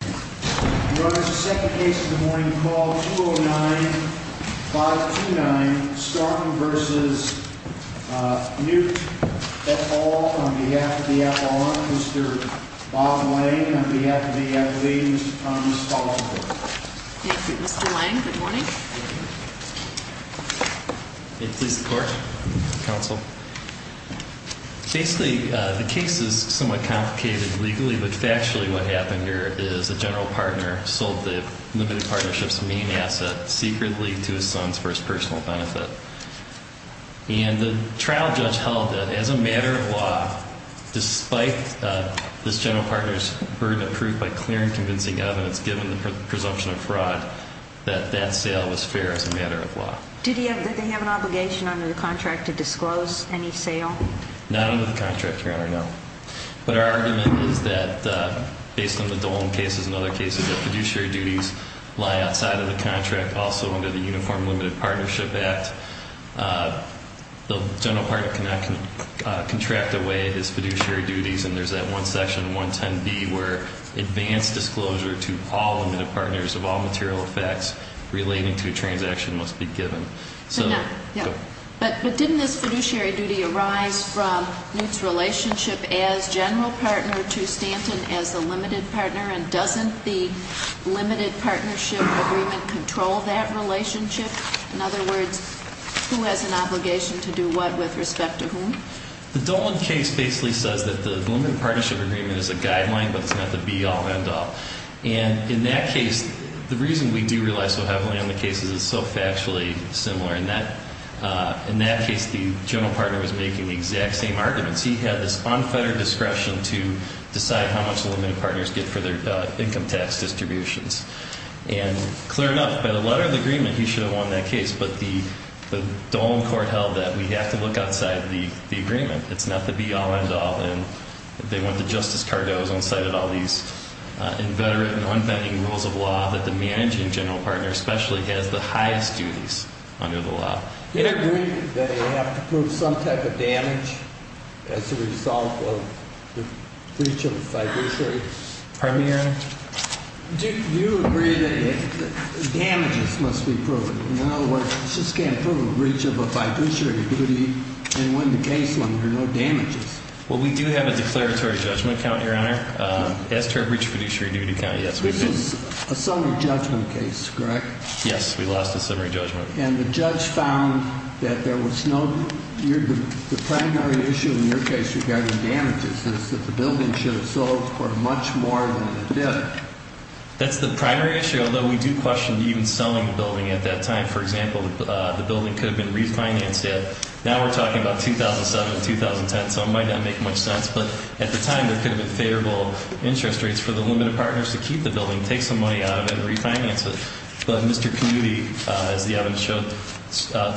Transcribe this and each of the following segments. Your Honor, the second case of the morning, call 209-529, Stanton v. Knutte. That's all on behalf of the appellant, Mr. Bob Lang, and on behalf of the attorney, Mr. Thomas, calls the court. Thank you. Mr. Lang, good morning. May it please the court, counsel. Basically, the case is somewhat complicated legally, but factually what happened here is a general partner sold the limited partnership's main asset secretly to his son for his personal benefit. And the trial judge held that as a matter of law, despite this general partner's burden of proof by clear and convincing evidence, given the presumption of fraud, that that sale was fair as a matter of law. Did they have an obligation under the contract to disclose any sale? Not under the contract, Your Honor, no. But our argument is that, based on the Dolan cases and other cases, that fiduciary duties lie outside of the contract, also under the Uniform Limited Partnership Act. The general partner cannot contract away his fiduciary duties. And there's that one section, 110B, where advanced disclosure to all limited partners of all material effects relating to a transaction must be given. But didn't this fiduciary duty arise from Knutte's relationship as general partner to Stanton as the limited partner? And doesn't the limited partnership agreement control that relationship? In other words, who has an obligation to do what with respect to whom? The Dolan case basically says that the limited partnership agreement is a guideline, but it's not the be-all, end-all. And in that case, the reason we do rely so heavily on the case is it's so factually similar. In that case, the general partner was making the exact same arguments. He had this unfettered discretion to decide how much the limited partners get for their income tax distributions. And clear enough, by the letter of the agreement, he should have won that case. But the Dolan court held that we have to look outside the agreement. It's not the be-all, end-all. And they went to Justice Cardozo and cited all these inveterate and unbending rules of law that the managing general partner especially has the highest duties under the law. Do you agree that they have to prove some type of damage as a result of the breach of the fiduciary? Pardon me, Your Honor? Do you agree that damages must be proven? In other words, you just can't prove a breach of a fiduciary duty and win the case when there are no damages. Well, we do have a declaratory judgment count, Your Honor. As to our breach of fiduciary duty count, yes, we did. This is a summary judgment case, correct? Yes, we lost a summary judgment. And the judge found that there was no – the primary issue in your case regarding damages is that the building should have sold for much more than it did. That's the primary issue, although we do question even selling the building at that time. For example, the building could have been refinanced. Now we're talking about 2007, 2010, so it might not make much sense. But at the time, there could have been favorable interest rates for the limited partners to keep the building, take some money out of it, and refinance it. But Mr. Kennedy, as the evidence showed,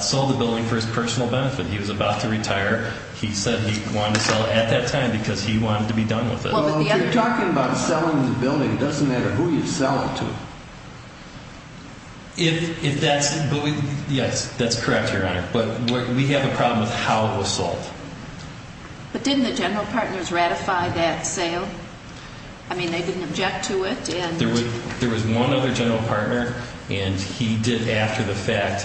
sold the building for his personal benefit. He was about to retire. He said he wanted to sell it at that time because he wanted to be done with it. Well, we're talking about selling the building. It doesn't matter who you sell it to. If that's – yes, that's correct, Your Honor. But we have a problem with how it was sold. But didn't the general partners ratify that sale? I mean, they didn't object to it. There was one other general partner, and he did, after the fact,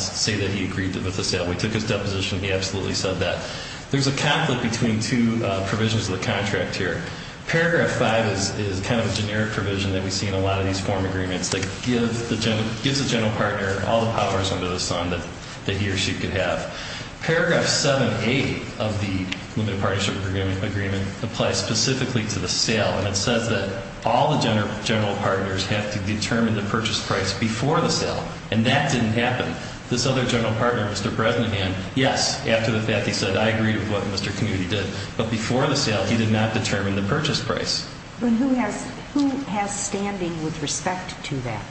say that he agreed to the sale. We took his deposition. He absolutely said that. There's a conflict between two provisions of the contract here. Paragraph 5 is kind of a generic provision that we see in a lot of these form agreements that gives the general partner all the powers under the sun that he or she could have. Paragraph 7a of the Limited Partnership Agreement applies specifically to the sale, and it says that all the general partners have to determine the purchase price before the sale. And that didn't happen. This other general partner, Mr. Bresnahan, yes, after the fact, he said, I agree with what Mr. Kennedy did. But before the sale, he did not determine the purchase price. But who has standing with respect to that?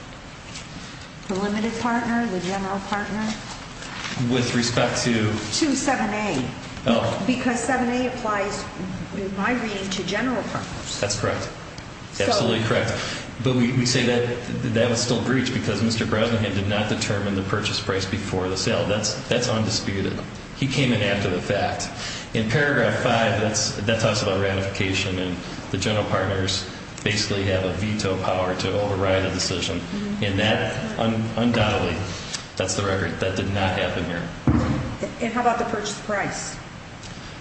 The limited partner, the general partner? With respect to? To 7a. Because 7a applies, in my reading, to general partners. That's correct. Absolutely correct. But we say that that was still breached because Mr. Bresnahan did not determine the purchase price before the sale. That's undisputed. He came in after the fact. In paragraph 5, that talks about ratification, and the general partners basically have a veto power to override a decision. And that undoubtedly, that's the record, that did not happen here. And how about the purchase price?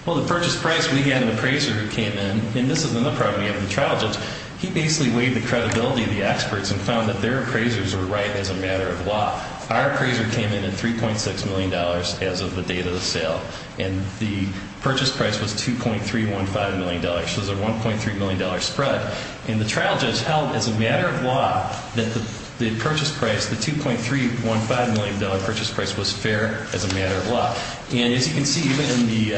Well, the purchase price, we had an appraiser who came in, and this is another property of the trial judge. He basically weighed the credibility of the experts and found that their appraisers were right as a matter of law. Our appraiser came in at $3.6 million as of the date of the sale, and the purchase price was $2.315 million. So it was a $1.3 million spread. And the trial judge held as a matter of law that the purchase price, the $2.315 million purchase price, was fair as a matter of law. And as you can see, even in the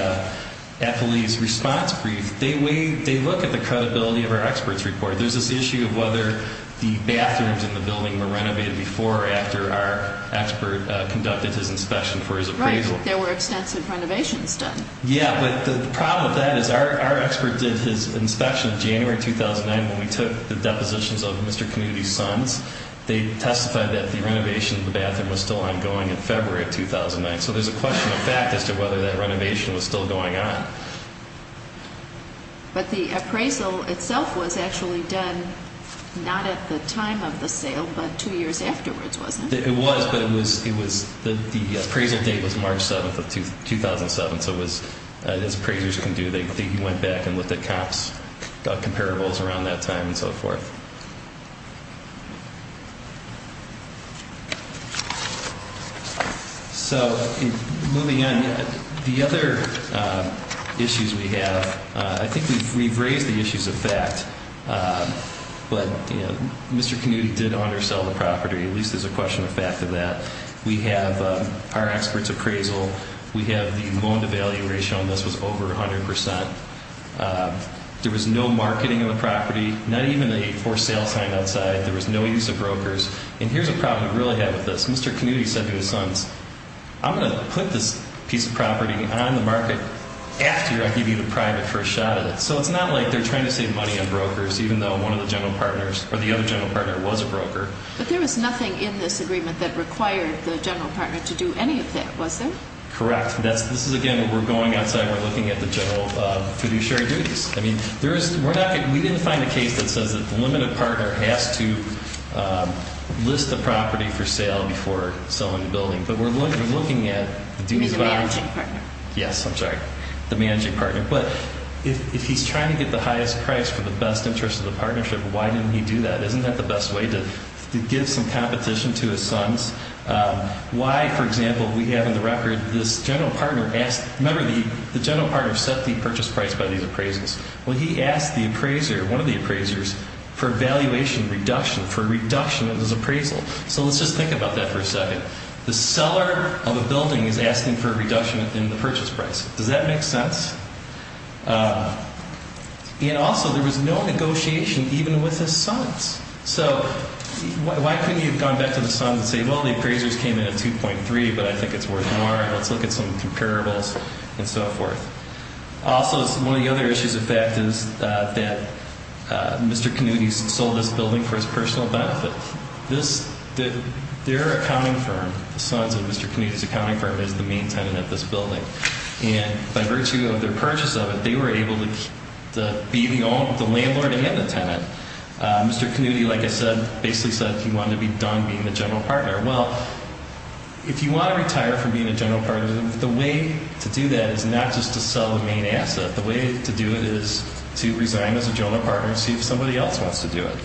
appellee's response brief, they look at the credibility of our experts' report. There's this issue of whether the bathrooms in the building were renovated before or after our expert conducted his inspection for his appraisal. Right. There were extensive renovations done. Yeah, but the problem with that is our expert did his inspection in January 2009 when we took the depositions of Mr. Community's sons. They testified that the renovation of the bathroom was still ongoing in February of 2009. So there's a question of fact as to whether that renovation was still going on. But the appraisal itself was actually done not at the time of the sale but two years afterwards, wasn't it? It was, but the appraisal date was March 7th of 2007. So as appraisers can do, they went back and looked at comparables around that time and so forth. So moving on, the other issues we have, I think we've raised the issues of fact. But Mr. Community did undersell the property, at least there's a question of fact of that. We have our expert's appraisal. We have the loan to value ratio, and this was over 100%. There was no marketing of the property, not even a for sale sign outside. There was no use of brokers. And here's a problem we really had with this. Mr. Community said to his sons, I'm going to put this piece of property on the market after I give you the private first shot at it. So it's not like they're trying to save money on brokers, even though one of the general partners or the other general partner was a broker. But there was nothing in this agreement that required the general partner to do any of that, was there? Correct. This is, again, we're going outside. We're looking at the general fiduciary duties. I mean, we didn't find a case that says that the limited partner has to list the property for sale before selling the building. But we're looking at the duties of our own. The managing partner. Yes, I'm sorry. The managing partner. But if he's trying to get the highest price for the best interest of the partnership, why didn't he do that? Isn't that the best way to give some competition to his sons? Why, for example, we have in the record this general partner asked. Remember, the general partner set the purchase price by these appraisals. Well, he asked the appraiser, one of the appraisers, for a valuation reduction, for a reduction of his appraisal. So let's just think about that for a second. The seller of a building is asking for a reduction in the purchase price. Does that make sense? And also, there was no negotiation even with his sons. So why couldn't you have gone back to the sons and say, well, the appraisers came in at 2.3, but I think it's worth more. Let's look at some comparables and so forth. Also, one of the other issues of fact is that Mr. Kanuti sold this building for his personal benefit. Their accounting firm, the sons of Mr. Kanuti's accounting firm is the main tenant of this building. And by virtue of their purchase of it, they were able to be the landlord and the tenant. Mr. Kanuti, like I said, basically said he wanted to be done being the general partner. Well, if you want to retire from being a general partner, the way to do that is not just to sell the main asset. The way to do it is to resign as a general partner and see if somebody else wants to do it.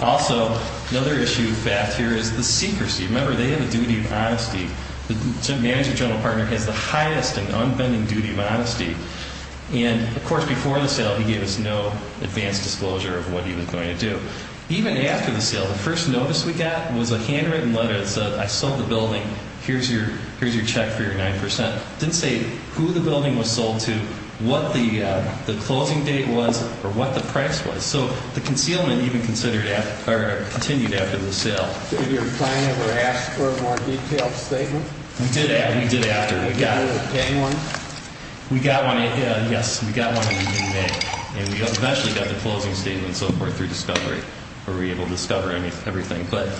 Also, another issue of fact here is the secrecy. Remember, they have a duty of honesty. The manager general partner has the highest and unbending duty of honesty. And, of course, before the sale, he gave us no advance disclosure of what he was going to do. Even after the sale, the first notice we got was a handwritten letter that said, I sold the building. Here's your check for your 9%. It didn't say who the building was sold to, what the closing date was, or what the price was. So the concealment even continued after the sale. Did your client ever ask for a more detailed statement? We did after. Did you ever obtain one? We got one, yes. We got one in May. And we eventually got the closing statement and so forth through discovery. We were able to discover everything. But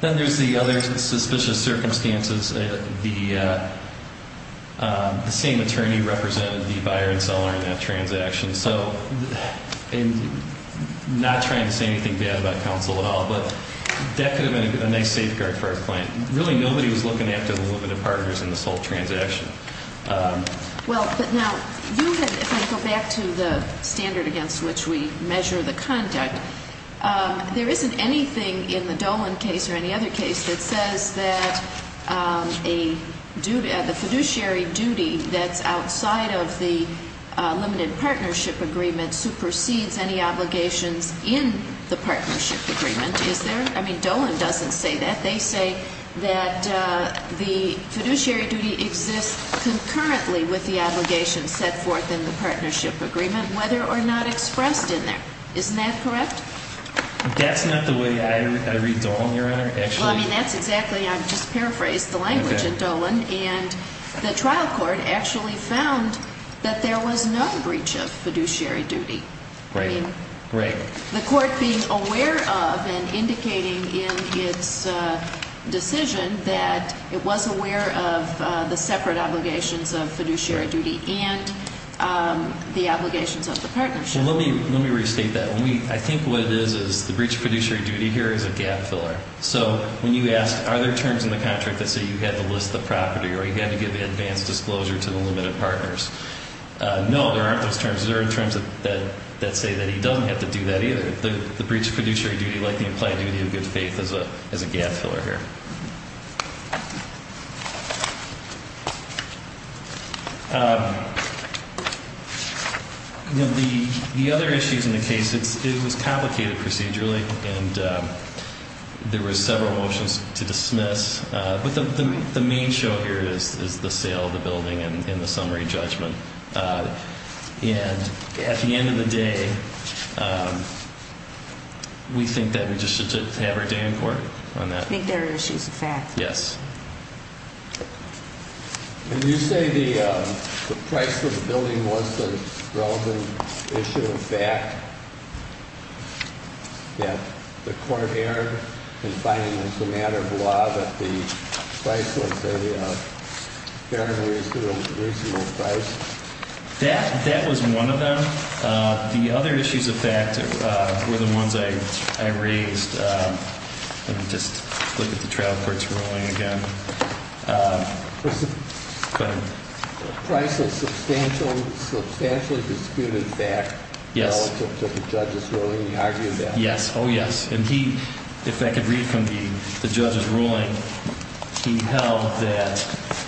then there's the other suspicious circumstances. The same attorney represented the buyer and seller in that transaction. And so, not trying to say anything bad about counsel at all, but that could have been a nice safeguard for our client. Really, nobody was looking after the limited partners in this whole transaction. Well, but now, if I go back to the standard against which we measure the conduct, there isn't anything in the Dolan case or any other case that says that the fiduciary duty that's outside of the limited partnership agreement supersedes any obligations in the partnership agreement, is there? I mean, Dolan doesn't say that. They say that the fiduciary duty exists concurrently with the obligations set forth in the partnership agreement, whether or not expressed in there. Isn't that correct? That's not the way I read Dolan, Your Honor. Well, I mean, that's exactly, I've just paraphrased the language in Dolan. And the trial court actually found that there was no breach of fiduciary duty. I mean, the court being aware of and indicating in its decision that it was aware of the separate obligations of fiduciary duty and the obligations of the partnership. Well, let me restate that. I think what it is is the breach of fiduciary duty here is a gap filler. So when you ask, are there terms in the contract that say you had to list the property or you had to give the advance disclosure to the limited partners, no, there aren't those terms. There are terms that say that he doesn't have to do that either. The breach of fiduciary duty, like the implied duty of good faith, is a gap filler here. The other issues in the case, it was complicated procedurally, and there were several motions to dismiss. But the main show here is the sale of the building and the summary judgment. And at the end of the day, we think that we just should have our day in court on that. I think there are issues of fact. Yes. Did you say the price of the building was the relevant issue of fact? That the court erred in finding as a matter of law that the price was a fair and reasonable price? That was one of them. The other issues of fact were the ones I raised. Let me just look at the trial court's ruling again. Go ahead. Price is a substantially disputed fact relative to the judge's ruling. He argued that. Yes. Oh, yes. And he, if I could read from the judge's ruling, he held that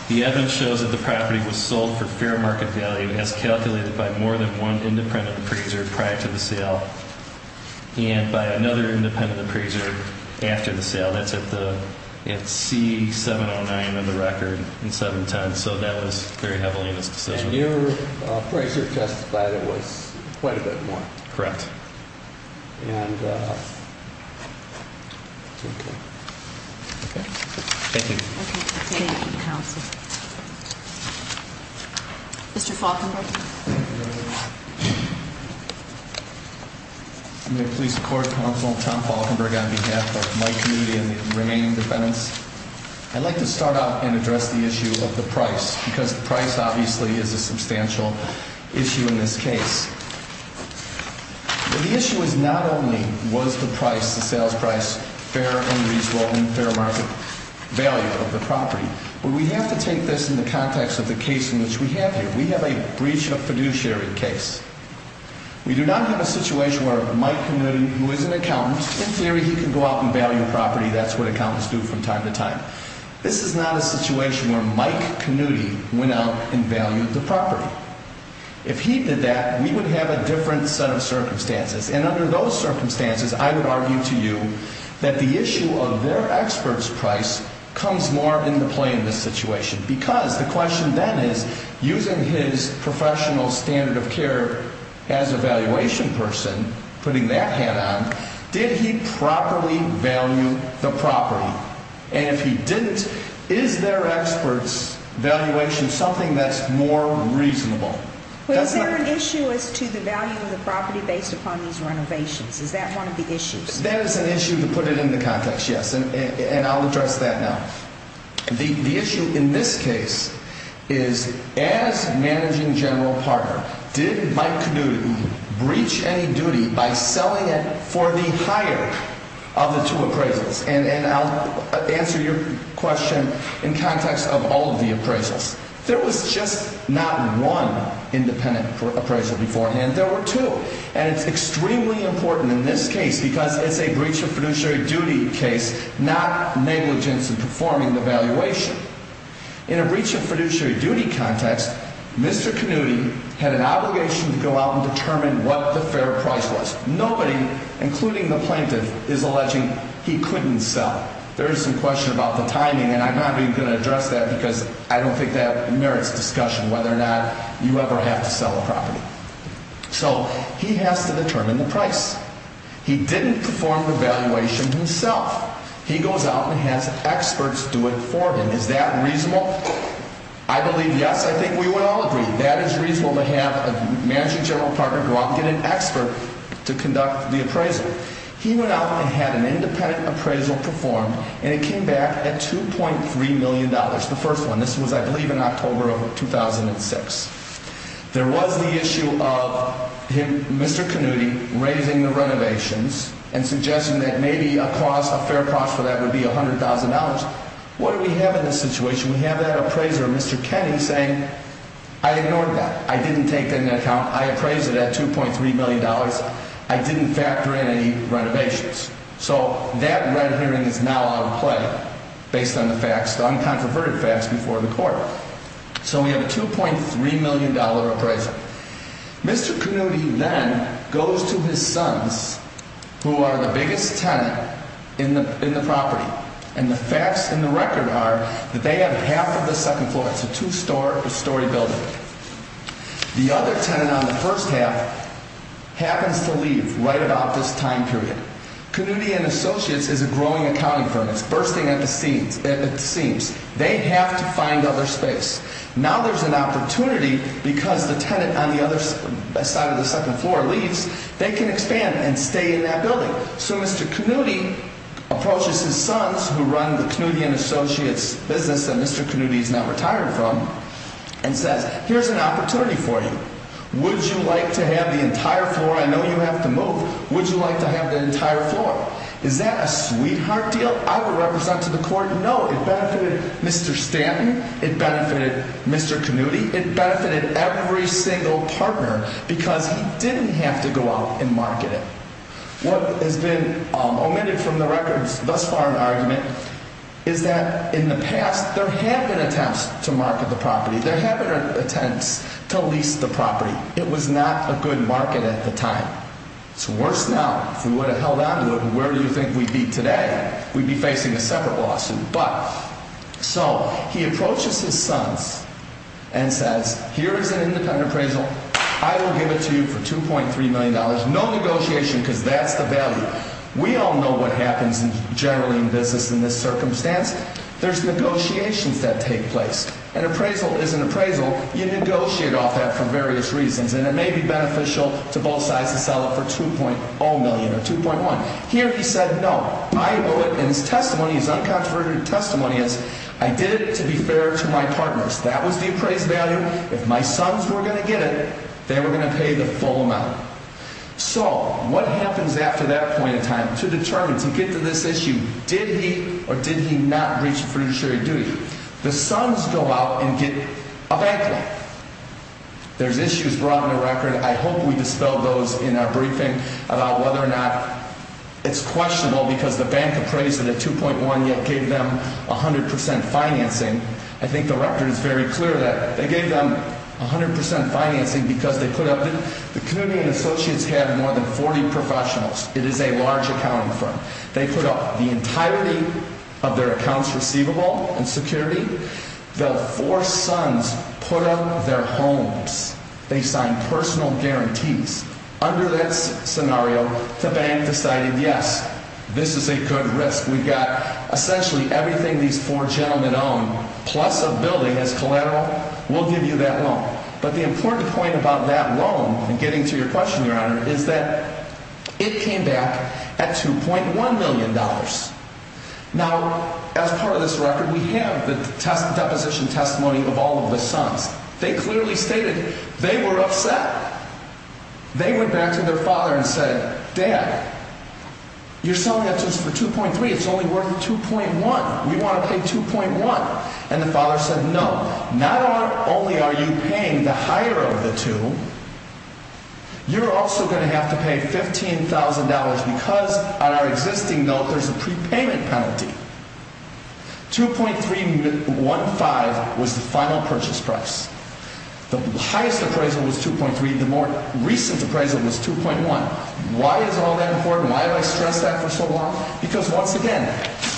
the evidence shows that the property was sold for fair market value as calculated by more than one independent appraiser prior to the sale, and by another independent appraiser after the sale. That's at C709 of the record in 710. So that was very heavily in his decision. And your appraiser testified it was quite a bit more. Correct. And that's okay. Okay. Thank you. Okay. Thank you, counsel. Mr. Falkenberg. I'm a police court counsel, Tom Falkenberg, on behalf of my community and the remaining defendants. I'd like to start off and address the issue of the price because the price obviously is a substantial issue in this case. But the issue is not only was the price, the sales price, fair and reasonable and fair market value of the property, but we have to take this in the context of the case in which we have here. We have a breach of fiduciary case. We do not have a situation where Mike Canutti, who is an accountant, in theory he can go out and value a property. That's what accountants do from time to time. This is not a situation where Mike Canutti went out and valued the property. If he did that, we would have a different set of circumstances. And under those circumstances, I would argue to you that the issue of their expert's price comes more into play in this situation because the question then is using his professional standard of care as a valuation person, putting that hat on, did he properly value the property? And if he didn't, is their expert's valuation something that's more reasonable? Is there an issue as to the value of the property based upon these renovations? Is that one of the issues? That is an issue to put it into context, yes. And I'll address that now. The issue in this case is as managing general partner, did Mike Canutti breach any duty by selling it for the hire of the two appraisals? And I'll answer your question in context of all of the appraisals. There was just not one independent appraisal beforehand. There were two. And it's extremely important in this case because it's a breach of fiduciary duty case, not negligence in performing the valuation. In a breach of fiduciary duty context, Mr. Canutti had an obligation to go out and determine what the fair price was. Nobody, including the plaintiff, is alleging he couldn't sell. There is some question about the timing, and I'm not even going to address that because I don't think that merits discussion, whether or not you ever have to sell a property. So he has to determine the price. He didn't perform the valuation himself. He goes out and has experts do it for him. Is that reasonable? I believe yes. I think we would all agree. That is reasonable to have a managing general partner go out and get an expert to conduct the appraisal. He went out and had an independent appraisal performed, and it came back at $2.3 million, the first one. This was, I believe, in October of 2006. There was the issue of Mr. Canutti raising the renovations and suggesting that maybe a fair cost for that would be $100,000. What do we have in this situation? We have that appraiser, Mr. Kenny, saying, I ignored that. I didn't take that into account. I appraised it at $2.3 million. I didn't factor in any renovations. So that red herring is now out of play based on the facts, the uncontroverted facts before the court. So we have a $2.3 million appraiser. Mr. Canutti then goes to his sons, who are the biggest tenant in the property, and the facts and the record are that they have half of the second floor. It's a two-story building. The other tenant on the first half happens to leave right about this time period. Canutti and Associates is a growing accounting firm. It's bursting at the seams. They have to find other space. Now there's an opportunity because the tenant on the other side of the second floor leaves, they can expand and stay in that building. So Mr. Canutti approaches his sons, who run the Canutti and Associates business that Mr. Canutti is now retired from, and says, here's an opportunity for you. Would you like to have the entire floor? I know you have to move. Would you like to have the entire floor? Is that a sweetheart deal? I will represent to the court, no. It benefited Mr. Stanton. It benefited Mr. Canutti. It benefited every single partner because he didn't have to go out and market it. What has been omitted from the record thus far in the argument is that in the past there have been attempts to market the property. There have been attempts to lease the property. It was not a good market at the time. It's worse now. If we would have held on to it, where do you think we'd be today? We'd be facing a separate lawsuit. So he approaches his sons and says, here is an independent appraisal. I will give it to you for $2.3 million. No negotiation because that's the value. We all know what happens generally in business in this circumstance. There's negotiations that take place. An appraisal is an appraisal. You negotiate off that for various reasons. And it may be beneficial to both sides to sell it for $2.0 million or $2.1 million. Here he said, no. I owe it. And his testimony, his uncontroverted testimony is, I did it to be fair to my partners. That was the appraised value. If my sons were going to get it, they were going to pay the full amount. So what happens after that point in time to determine, to get to this issue, did he or did he not breach the fiduciary duty? The sons go out and get a bank loan. There's issues brought in the record. I hope we dispel those in our briefing about whether or not it's questionable because the bank appraised it at $2.1 million yet gave them 100% financing. I think the record is very clear that they gave them 100% financing because they put up the community and associates have more than 40 professionals. It is a large accounting firm. They put up the entirety of their accounts receivable and security. The four sons put up their homes. They signed personal guarantees. Under that scenario, the bank decided, yes, this is a good risk. We've got essentially everything these four gentlemen own plus a building as collateral. We'll give you that loan. But the important point about that loan and getting to your question, Your Honor, is that it came back at $2.1 million. Now, as part of this record, we have the deposition testimony of all of the sons. They clearly stated they were upset. They went back to their father and said, Dad, you're selling that to us for $2.3. It's only worth $2.1. We want to pay $2.1. And the father said, No, not only are you paying the higher of the two, you're also going to have to pay $15,000 because on our existing note, there's a prepayment penalty. $2.315 was the final purchase price. The highest appraisal was $2.3. The more recent appraisal was $2.1. Why is all that important? Why do I stress that for so long? Because, once again,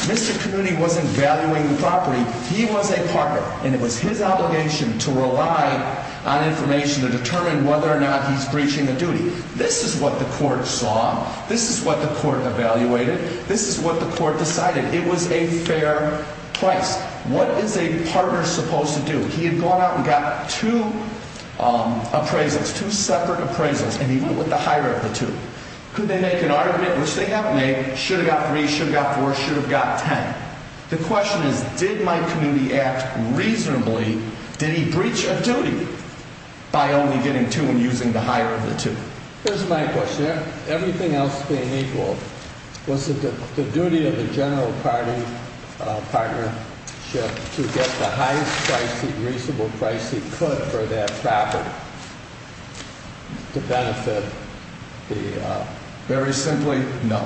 Mr. Comuni wasn't valuing the property. He was a partner, and it was his obligation to rely on information to determine whether or not he's breaching a duty. This is what the court saw. This is what the court evaluated. This is what the court decided. It was a fair price. What is a partner supposed to do? He had gone out and got two appraisals, two separate appraisals, and he went with the higher of the two. Could they make an argument, which they have made, should have got three, should have got four, should have got ten. The question is, did Mike Comuni act reasonably? Did he breach a duty by only getting two and using the higher of the two? Here's my question. Everything else being equal, was it the duty of the general partnership to get the highest price, the reasonable price he could for that property to benefit the? Very simply, no.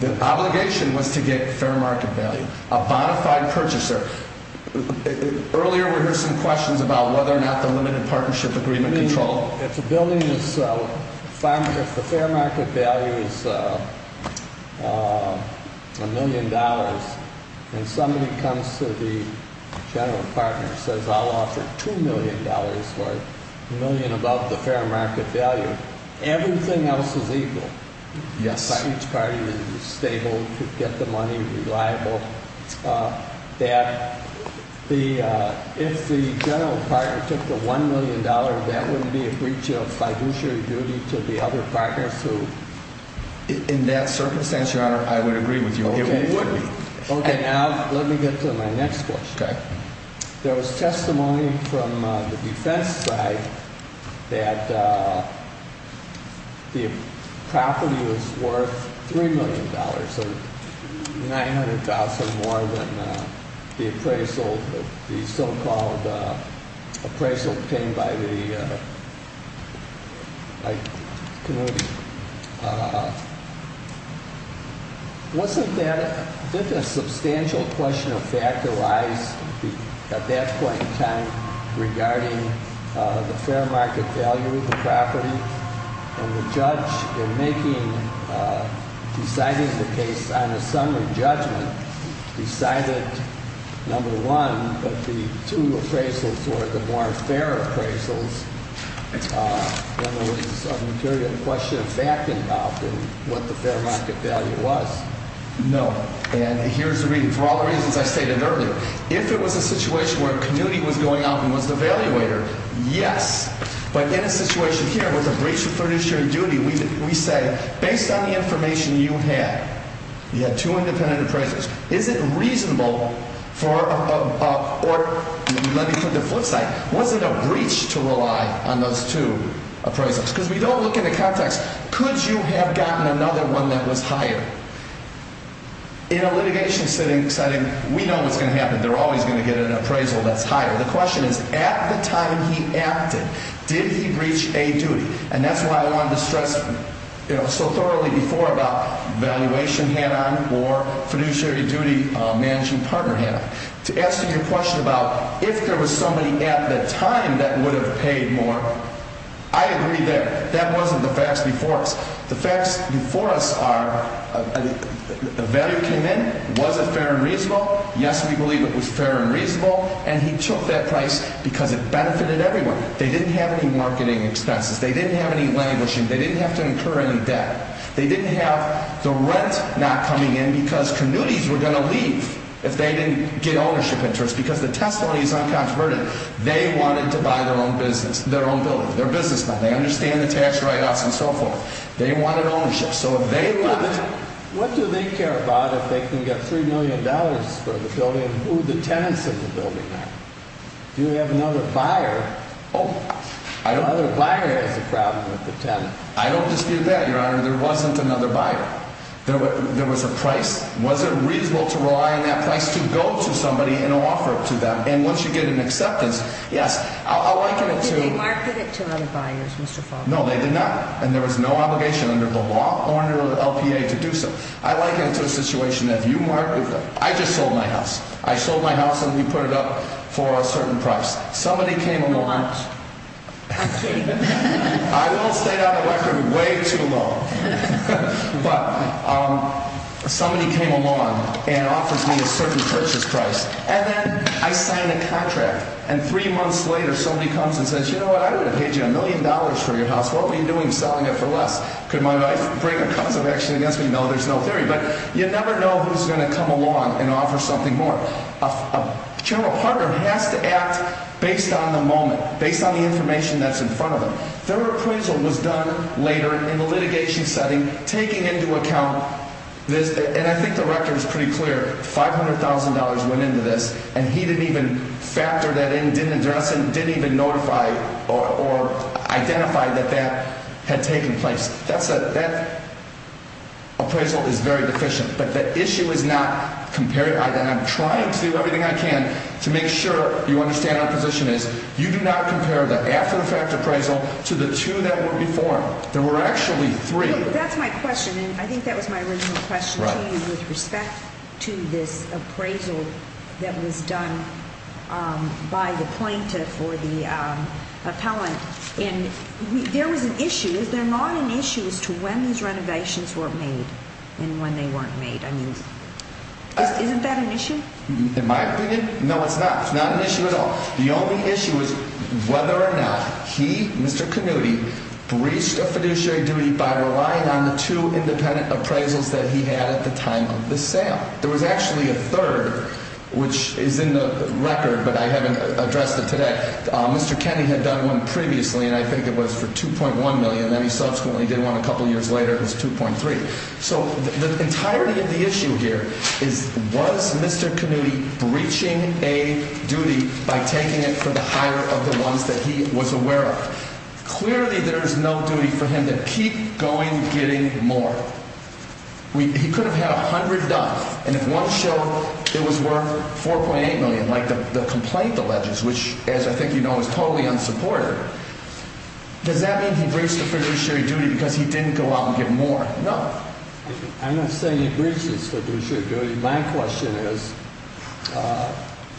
The obligation was to get fair market value. A bona fide purchaser. Earlier we heard some questions about whether or not the limited partnership agreement controlled. If the fair market value is a million dollars and somebody comes to the general partner and says I'll offer two million dollars or a million above the fair market value, everything else is equal. Yes. If the general partner took the one million dollars, that wouldn't be a breach of fiduciary duty to the other partners who? In that circumstance, Your Honor, I would agree with you. Okay. Okay, now let me get to my next question. Okay. There was testimony from the defense side that the property was worth $3 million, so $900,000 more than the appraisal, the so-called appraisal obtained by the community. Wasn't that a substantial question of fact or lies at that point in time regarding the fair market value of the property? And the judge in making, deciding the case on a summary judgment decided, number one, that the two appraisals were the more fair appraisals. Then there was a material question of fact involved in what the fair market value was. No. And here's the reason. For all the reasons I stated earlier, if it was a situation where a community was going out and was the evaluator, yes. But in a situation here with a breach of fiduciary duty, we say, based on the information you had, you had two independent appraisals. Is it reasonable for a, or let me put it the flip side, was it a breach to rely on those two appraisals? Because we don't look in the context, could you have gotten another one that was higher? In a litigation setting, we know what's going to happen. They're always going to get an appraisal that's higher. The question is, at the time he acted, did he breach a duty? And that's why I wanted to stress so thoroughly before about valuation hand-on or fiduciary duty managing partner hand-on. To answer your question about if there was somebody at the time that would have paid more, I agree there. That wasn't the facts before us. The facts before us are, the vetter came in. Was it fair and reasonable? Yes, we believe it was fair and reasonable. And he took that price because it benefited everyone. They didn't have any marketing expenses. They didn't have any languishing. They didn't have to incur any debt. They didn't have the rent not coming in because communities were going to leave if they didn't get ownership interest. Because the testimony is uncontroverted. They wanted to buy their own business, their own building. They're businessmen. They understand the tax write-offs and so forth. They wanted ownership. What do they care about if they can get $3 million for the building and who the tenants of the building are? Do you have another buyer? Oh, I don't. Another buyer has a problem with the tenant. I don't dispute that, Your Honor. There wasn't another buyer. There was a price. Was it reasonable to rely on that price to go to somebody and offer it to them? And once you get an acceptance, yes. Did they market it to other buyers, Mr. Faulkner? No, they did not. And there was no obligation under the law or under the LPA to do so. I liken it to a situation that if you marketed it. I just sold my house. I sold my house and we put it up for a certain price. Somebody came along. I will state on the record, way too low. But somebody came along and offered me a certain purchase price. And then I signed a contract. And three months later somebody comes and says, you know what, I would have paid you a million dollars for your house. What were you doing selling it for less? Could my wife bring a cause of action against me? No, there's no theory. But you never know who's going to come along and offer something more. A general partner has to act based on the moment, based on the information that's in front of them. Third appraisal was done later in the litigation setting, taking into account this. And I think the record is pretty clear. $500,000 went into this. And he didn't even factor that in, didn't address it, didn't even notify or identify that that had taken place. That appraisal is very deficient. But the issue is not comparing. I'm trying to do everything I can to make sure you understand our position is you do not compare the after the fact appraisal to the two that were before. There were actually three. That's my question. And I think that was my original question to you with respect to this appraisal that was done by the plaintiff or the appellant. And there was an issue. Is there not an issue as to when these renovations were made and when they weren't made? I mean, isn't that an issue? In my opinion, no, it's not. It's not an issue at all. The only issue is whether or not he, Mr. Canutti, breached a fiduciary duty by relying on the two independent appraisals that he had at the time of the sale. There was actually a third, which is in the record, but I haven't addressed it today. Mr. Kenney had done one previously, and I think it was for $2.1 million. Then he subsequently did one a couple years later. It was $2.3. So the entirety of the issue here is was Mr. Canutti breaching a duty by taking it for the hire of the ones that he was aware of? Clearly, there is no duty for him to keep going getting more. He could have had $100, and if one show it was worth $4.8 million, like the complaint alleges, which, as I think you know, is totally unsupported, does that mean he breached the fiduciary duty because he didn't go out and get more? No. I'm not saying he breached his fiduciary duty. My question is,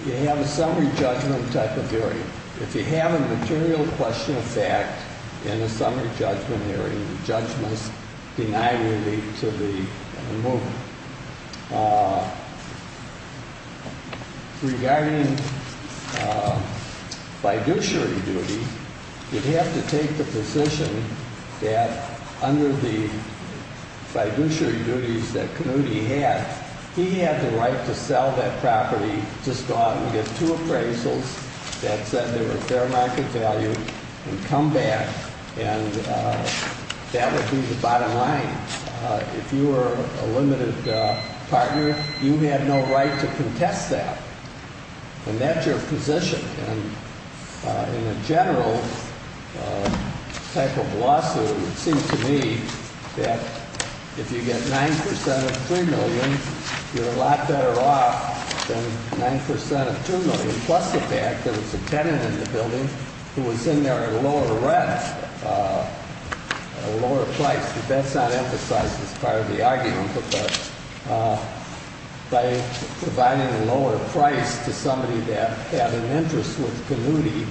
you have a summary judgment type of hearing. If you have a material question of fact in a summary judgment hearing, the judge must deny relief to the mover. Regarding fiduciary duty, you'd have to take the position that under the fiduciary duties that Canutti had, he had the right to sell that property to Scott and get two appraisals that said they were fair market value and come back, and that would be the bottom line. If you were a limited partner, you had no right to contest that, and that's your position. In a general type of lawsuit, it seems to me that if you get 9% of $3 million, you're a lot better off than 9% of $2 million, plus the fact that it's a tenant in the building who was in there at a lower rent, a lower price. That's not emphasized as part of the argument, but by providing a lower price to somebody that had an interest with Canutti,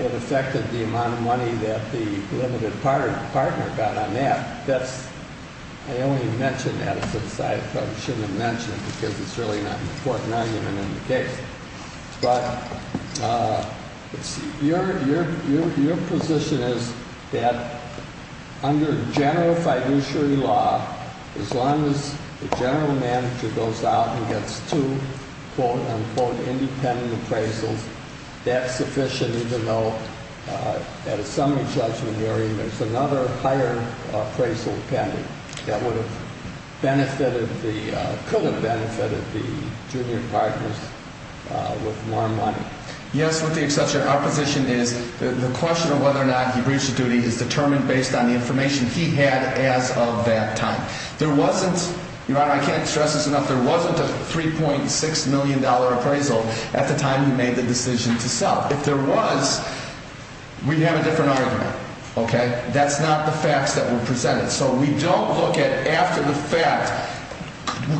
it affected the amount of money that the limited partner got on that. I only mentioned that because I probably shouldn't have mentioned it because it's really not an important argument in the case. Your position is that under general fiduciary law, as long as the general manager goes out and gets two independent appraisals, that's sufficient, even though at a summary judgment hearing, there's another higher appraisal pending. That would have benefited, could have benefited the junior partners with more money. Yes, with the exception, our position is the question of whether or not he breached the duty is determined based on the information he had as of that time. There wasn't, Your Honor, I can't stress this enough, there wasn't a $3.6 million appraisal at the time he made the decision to sell. If there was, we'd have a different argument. That's not the facts that were presented. So we don't look at after the fact,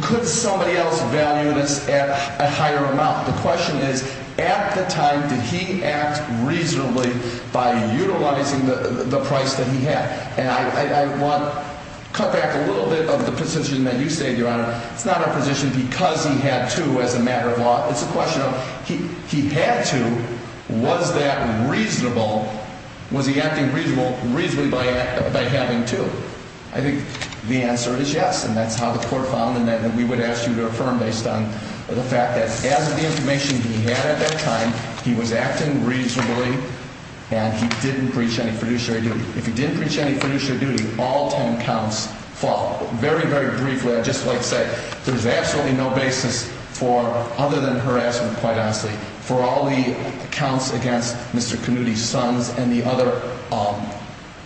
could somebody else value this at a higher amount? The question is, at the time, did he act reasonably by utilizing the price that he had? And I want to cut back a little bit of the position that you say, Your Honor. It's not our position because he had to as a matter of law. It's a question of he had to. Was that reasonable? Was he acting reasonably by having to? I think the answer is yes. And that's how the court found and that we would ask you to affirm based on the fact that as of the information he had at that time, he was acting reasonably. And he didn't breach any fiduciary duty. If he didn't breach any fiduciary duty, all 10 counts fall. Very, very briefly, just like I said, there's absolutely no basis for other than harassment, quite honestly. For all the counts against Mr. Kennedy's sons and the other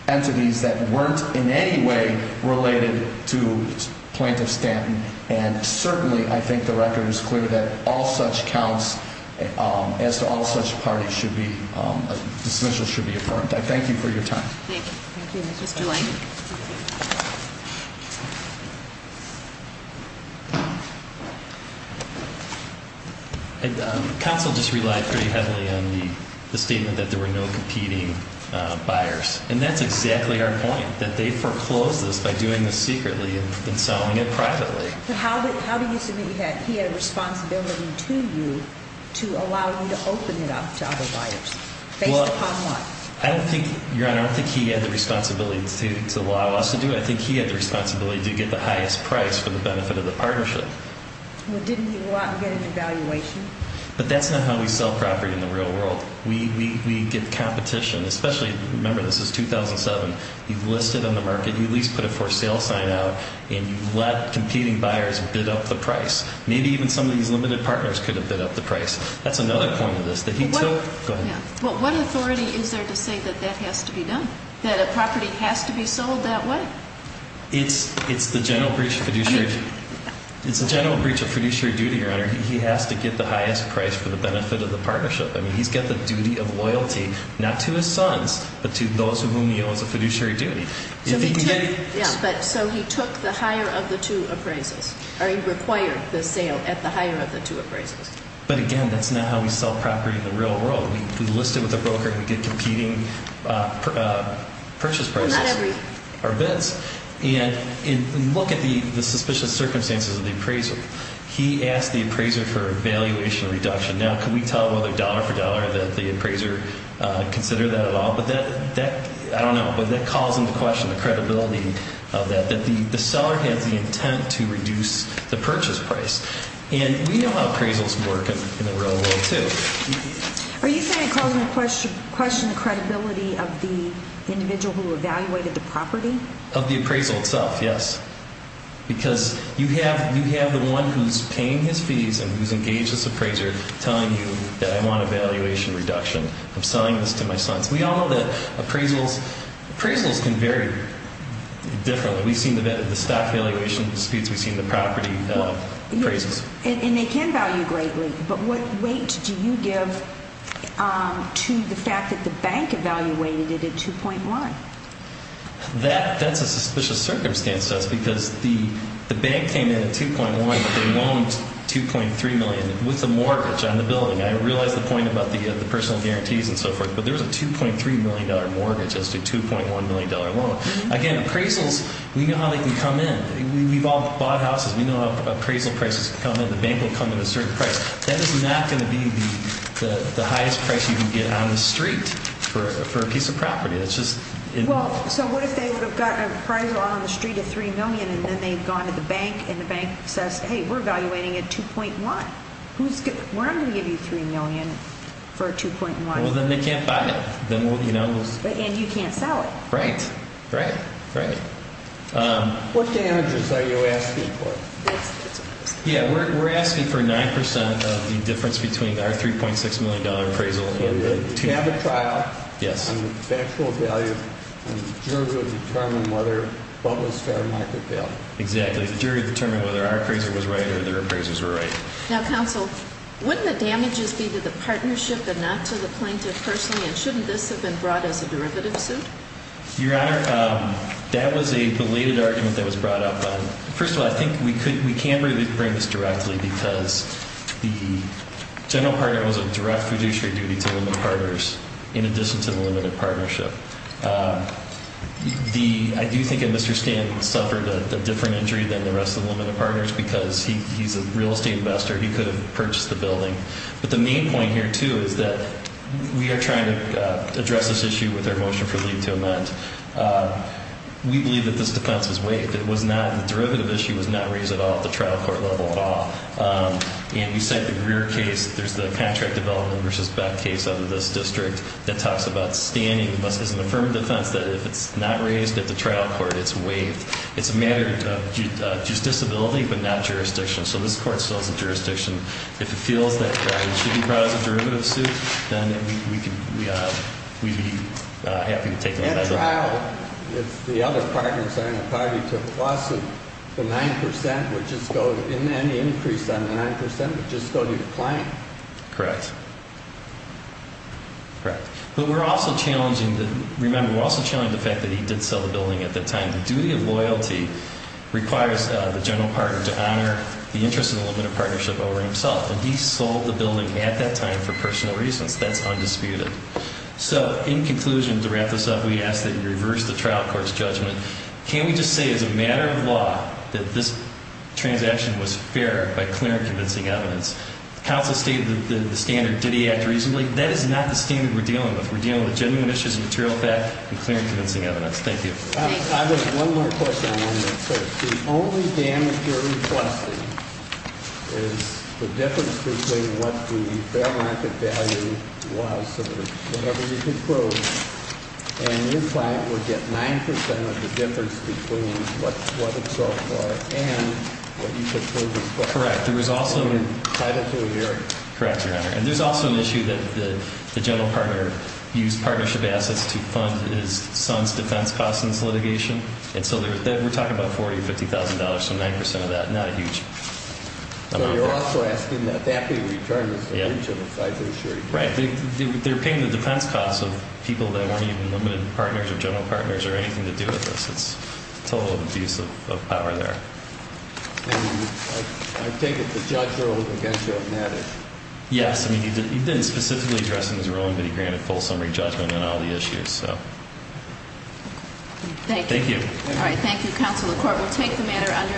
entities that weren't in any way related to Plaintiff Stanton. And certainly I think the record is clear that all such counts as to all such parties should be, dismissal should be affirmed. I thank you for your time. Thank you. Thank you, Mr. Lang. Counsel just relied pretty heavily on the statement that there were no competing buyers. And that's exactly our point, that they foreclosed this by doing this secretly and selling it privately. How do you submit he had a responsibility to you to allow you to open it up to other buyers based upon what? I don't think, Your Honor, I don't think he had the responsibility to allow us to do it. I think he had the responsibility to get the highest price for the benefit of the partnership. Well, didn't he want to get an evaluation? But that's not how we sell property in the real world. We get competition, especially, remember, this is 2007. You've listed on the market, you at least put a for sale sign out, and you let competing buyers bid up the price. Maybe even some of these limited partners could have bid up the price. That's another point of this. Well, what authority is there to say that that has to be done, that a property has to be sold that way? It's the general breach of fiduciary duty, Your Honor. He has to get the highest price for the benefit of the partnership. I mean, he's got the duty of loyalty, not to his sons, but to those of whom he owes a fiduciary duty. So he took the higher of the two appraisals, or he required the sale at the higher of the two appraisals. But, again, that's not how we sell property in the real world. We list it with a broker, and we get competing purchase prices, or bids. And look at the suspicious circumstances of the appraisal. He asked the appraiser for a valuation reduction. Now, can we tell whether dollar for dollar that the appraiser considered that at all? But that, I don't know, but that calls into question the credibility of that, that the seller has the intent to reduce the purchase price. And we know how appraisals work in the real world, too. Are you saying it calls into question the credibility of the individual who evaluated the property? Of the appraisal itself, yes. Because you have the one who's paying his fees and who's engaged this appraiser telling you that I want a valuation reduction. I'm selling this to my sons. We all know that appraisals can vary differently. We've seen the stock valuation disputes. We've seen the property appraisals. And they can value greatly. But what weight do you give to the fact that the bank evaluated it at 2.1? That's a suspicious circumstance to us because the bank came in at 2.1, but they loaned 2.3 million with a mortgage on the building. I realize the point about the personal guarantees and so forth, but there was a $2.3 million mortgage as to a $2.1 million loan. Again, appraisals, we know how they can come in. We've all bought houses. We know how appraisal prices come in. The bank will come in at a certain price. That is not going to be the highest price you can get on the street for a piece of property. It's just – Well, so what if they would have gotten an appraisal on the street at 3 million, and then they've gone to the bank, and the bank says, hey, we're evaluating at 2.1. We're not going to give you 3 million for a 2.1. Well, then they can't buy it. And you can't sell it. Right. Right. Right. What damages are you asking for? Yeah, we're asking for 9% of the difference between our $3.6 million appraisal and the 2.1. You have a trial. Yes. And factual value, and the jury will determine whether or not it was fair market value. Exactly. The jury will determine whether our appraiser was right or their appraisers were right. Now, counsel, wouldn't the damages be to the partnership and not to the plaintiff personally, and shouldn't this have been brought as a derivative suit? Your Honor, that was a belated argument that was brought up. First of all, I think we can't really bring this directly because the general partner was of direct fiduciary duty to the limited partners in addition to the limited partnership. I do think that Mr. Stanton suffered a different injury than the rest of the limited partners because he's a real estate investor. He could have purchased the building. But the main point here, too, is that we are trying to address this issue with our motion for leave to amend. We believe that this defense was waived. The derivative issue was not raised at all at the trial court level at all. And we cite the Greer case. There's the Patrick Development v. Beck case out of this district that talks about standing. It's an affirmed defense that if it's not raised at the trial court, it's waived. It's a matter of justiciability but not jurisdiction. So this court still has a jurisdiction. If it feels that it should be brought as a derivative suit, then we'd be happy to take it. At a trial, if the other partners on the party took a loss of the 9%, which is any increase on the 9% would just go to the client. Correct. Correct. But we're also challenging the fact that he did sell the building at that time. The duty of loyalty requires the general partner to honor the interest of the limited partnership over himself. And he sold the building at that time for personal reasons. That's undisputed. So in conclusion, to wrap this up, we ask that you reverse the trial court's judgment. Can we just say as a matter of law that this transaction was fair by clear and convincing evidence? The counsel stated the standard, did he act reasonably? That is not the standard we're dealing with. We're dealing with genuine issues of material fact and clear and convincing evidence. Thank you. I have one more question on this. The only damage you're requesting is the difference between what the fair market value was or whatever you could prove. And your client would get 9% of the difference between what it sold for and what you could prove as well. Correct. There was also an issue that the general partner used partnership assets to fund his son's defense costs in this litigation. And so we're talking about $40,000 or $50,000. So 9% of that, not a huge amount. So you're also asking that that be returned as the original size of the insurance? Right. They're paying the defense costs of people that weren't even limited partners or general partners or anything to do with this. It's total abuse of power there. And I take it the judge ruled against you on that? Yes. I mean, he didn't specifically address it in his ruling, but he granted full summary judgment on all the issues. Thank you. Thank you. All right. Thank you, Counsel to the Court. We'll take the matter under adjournment.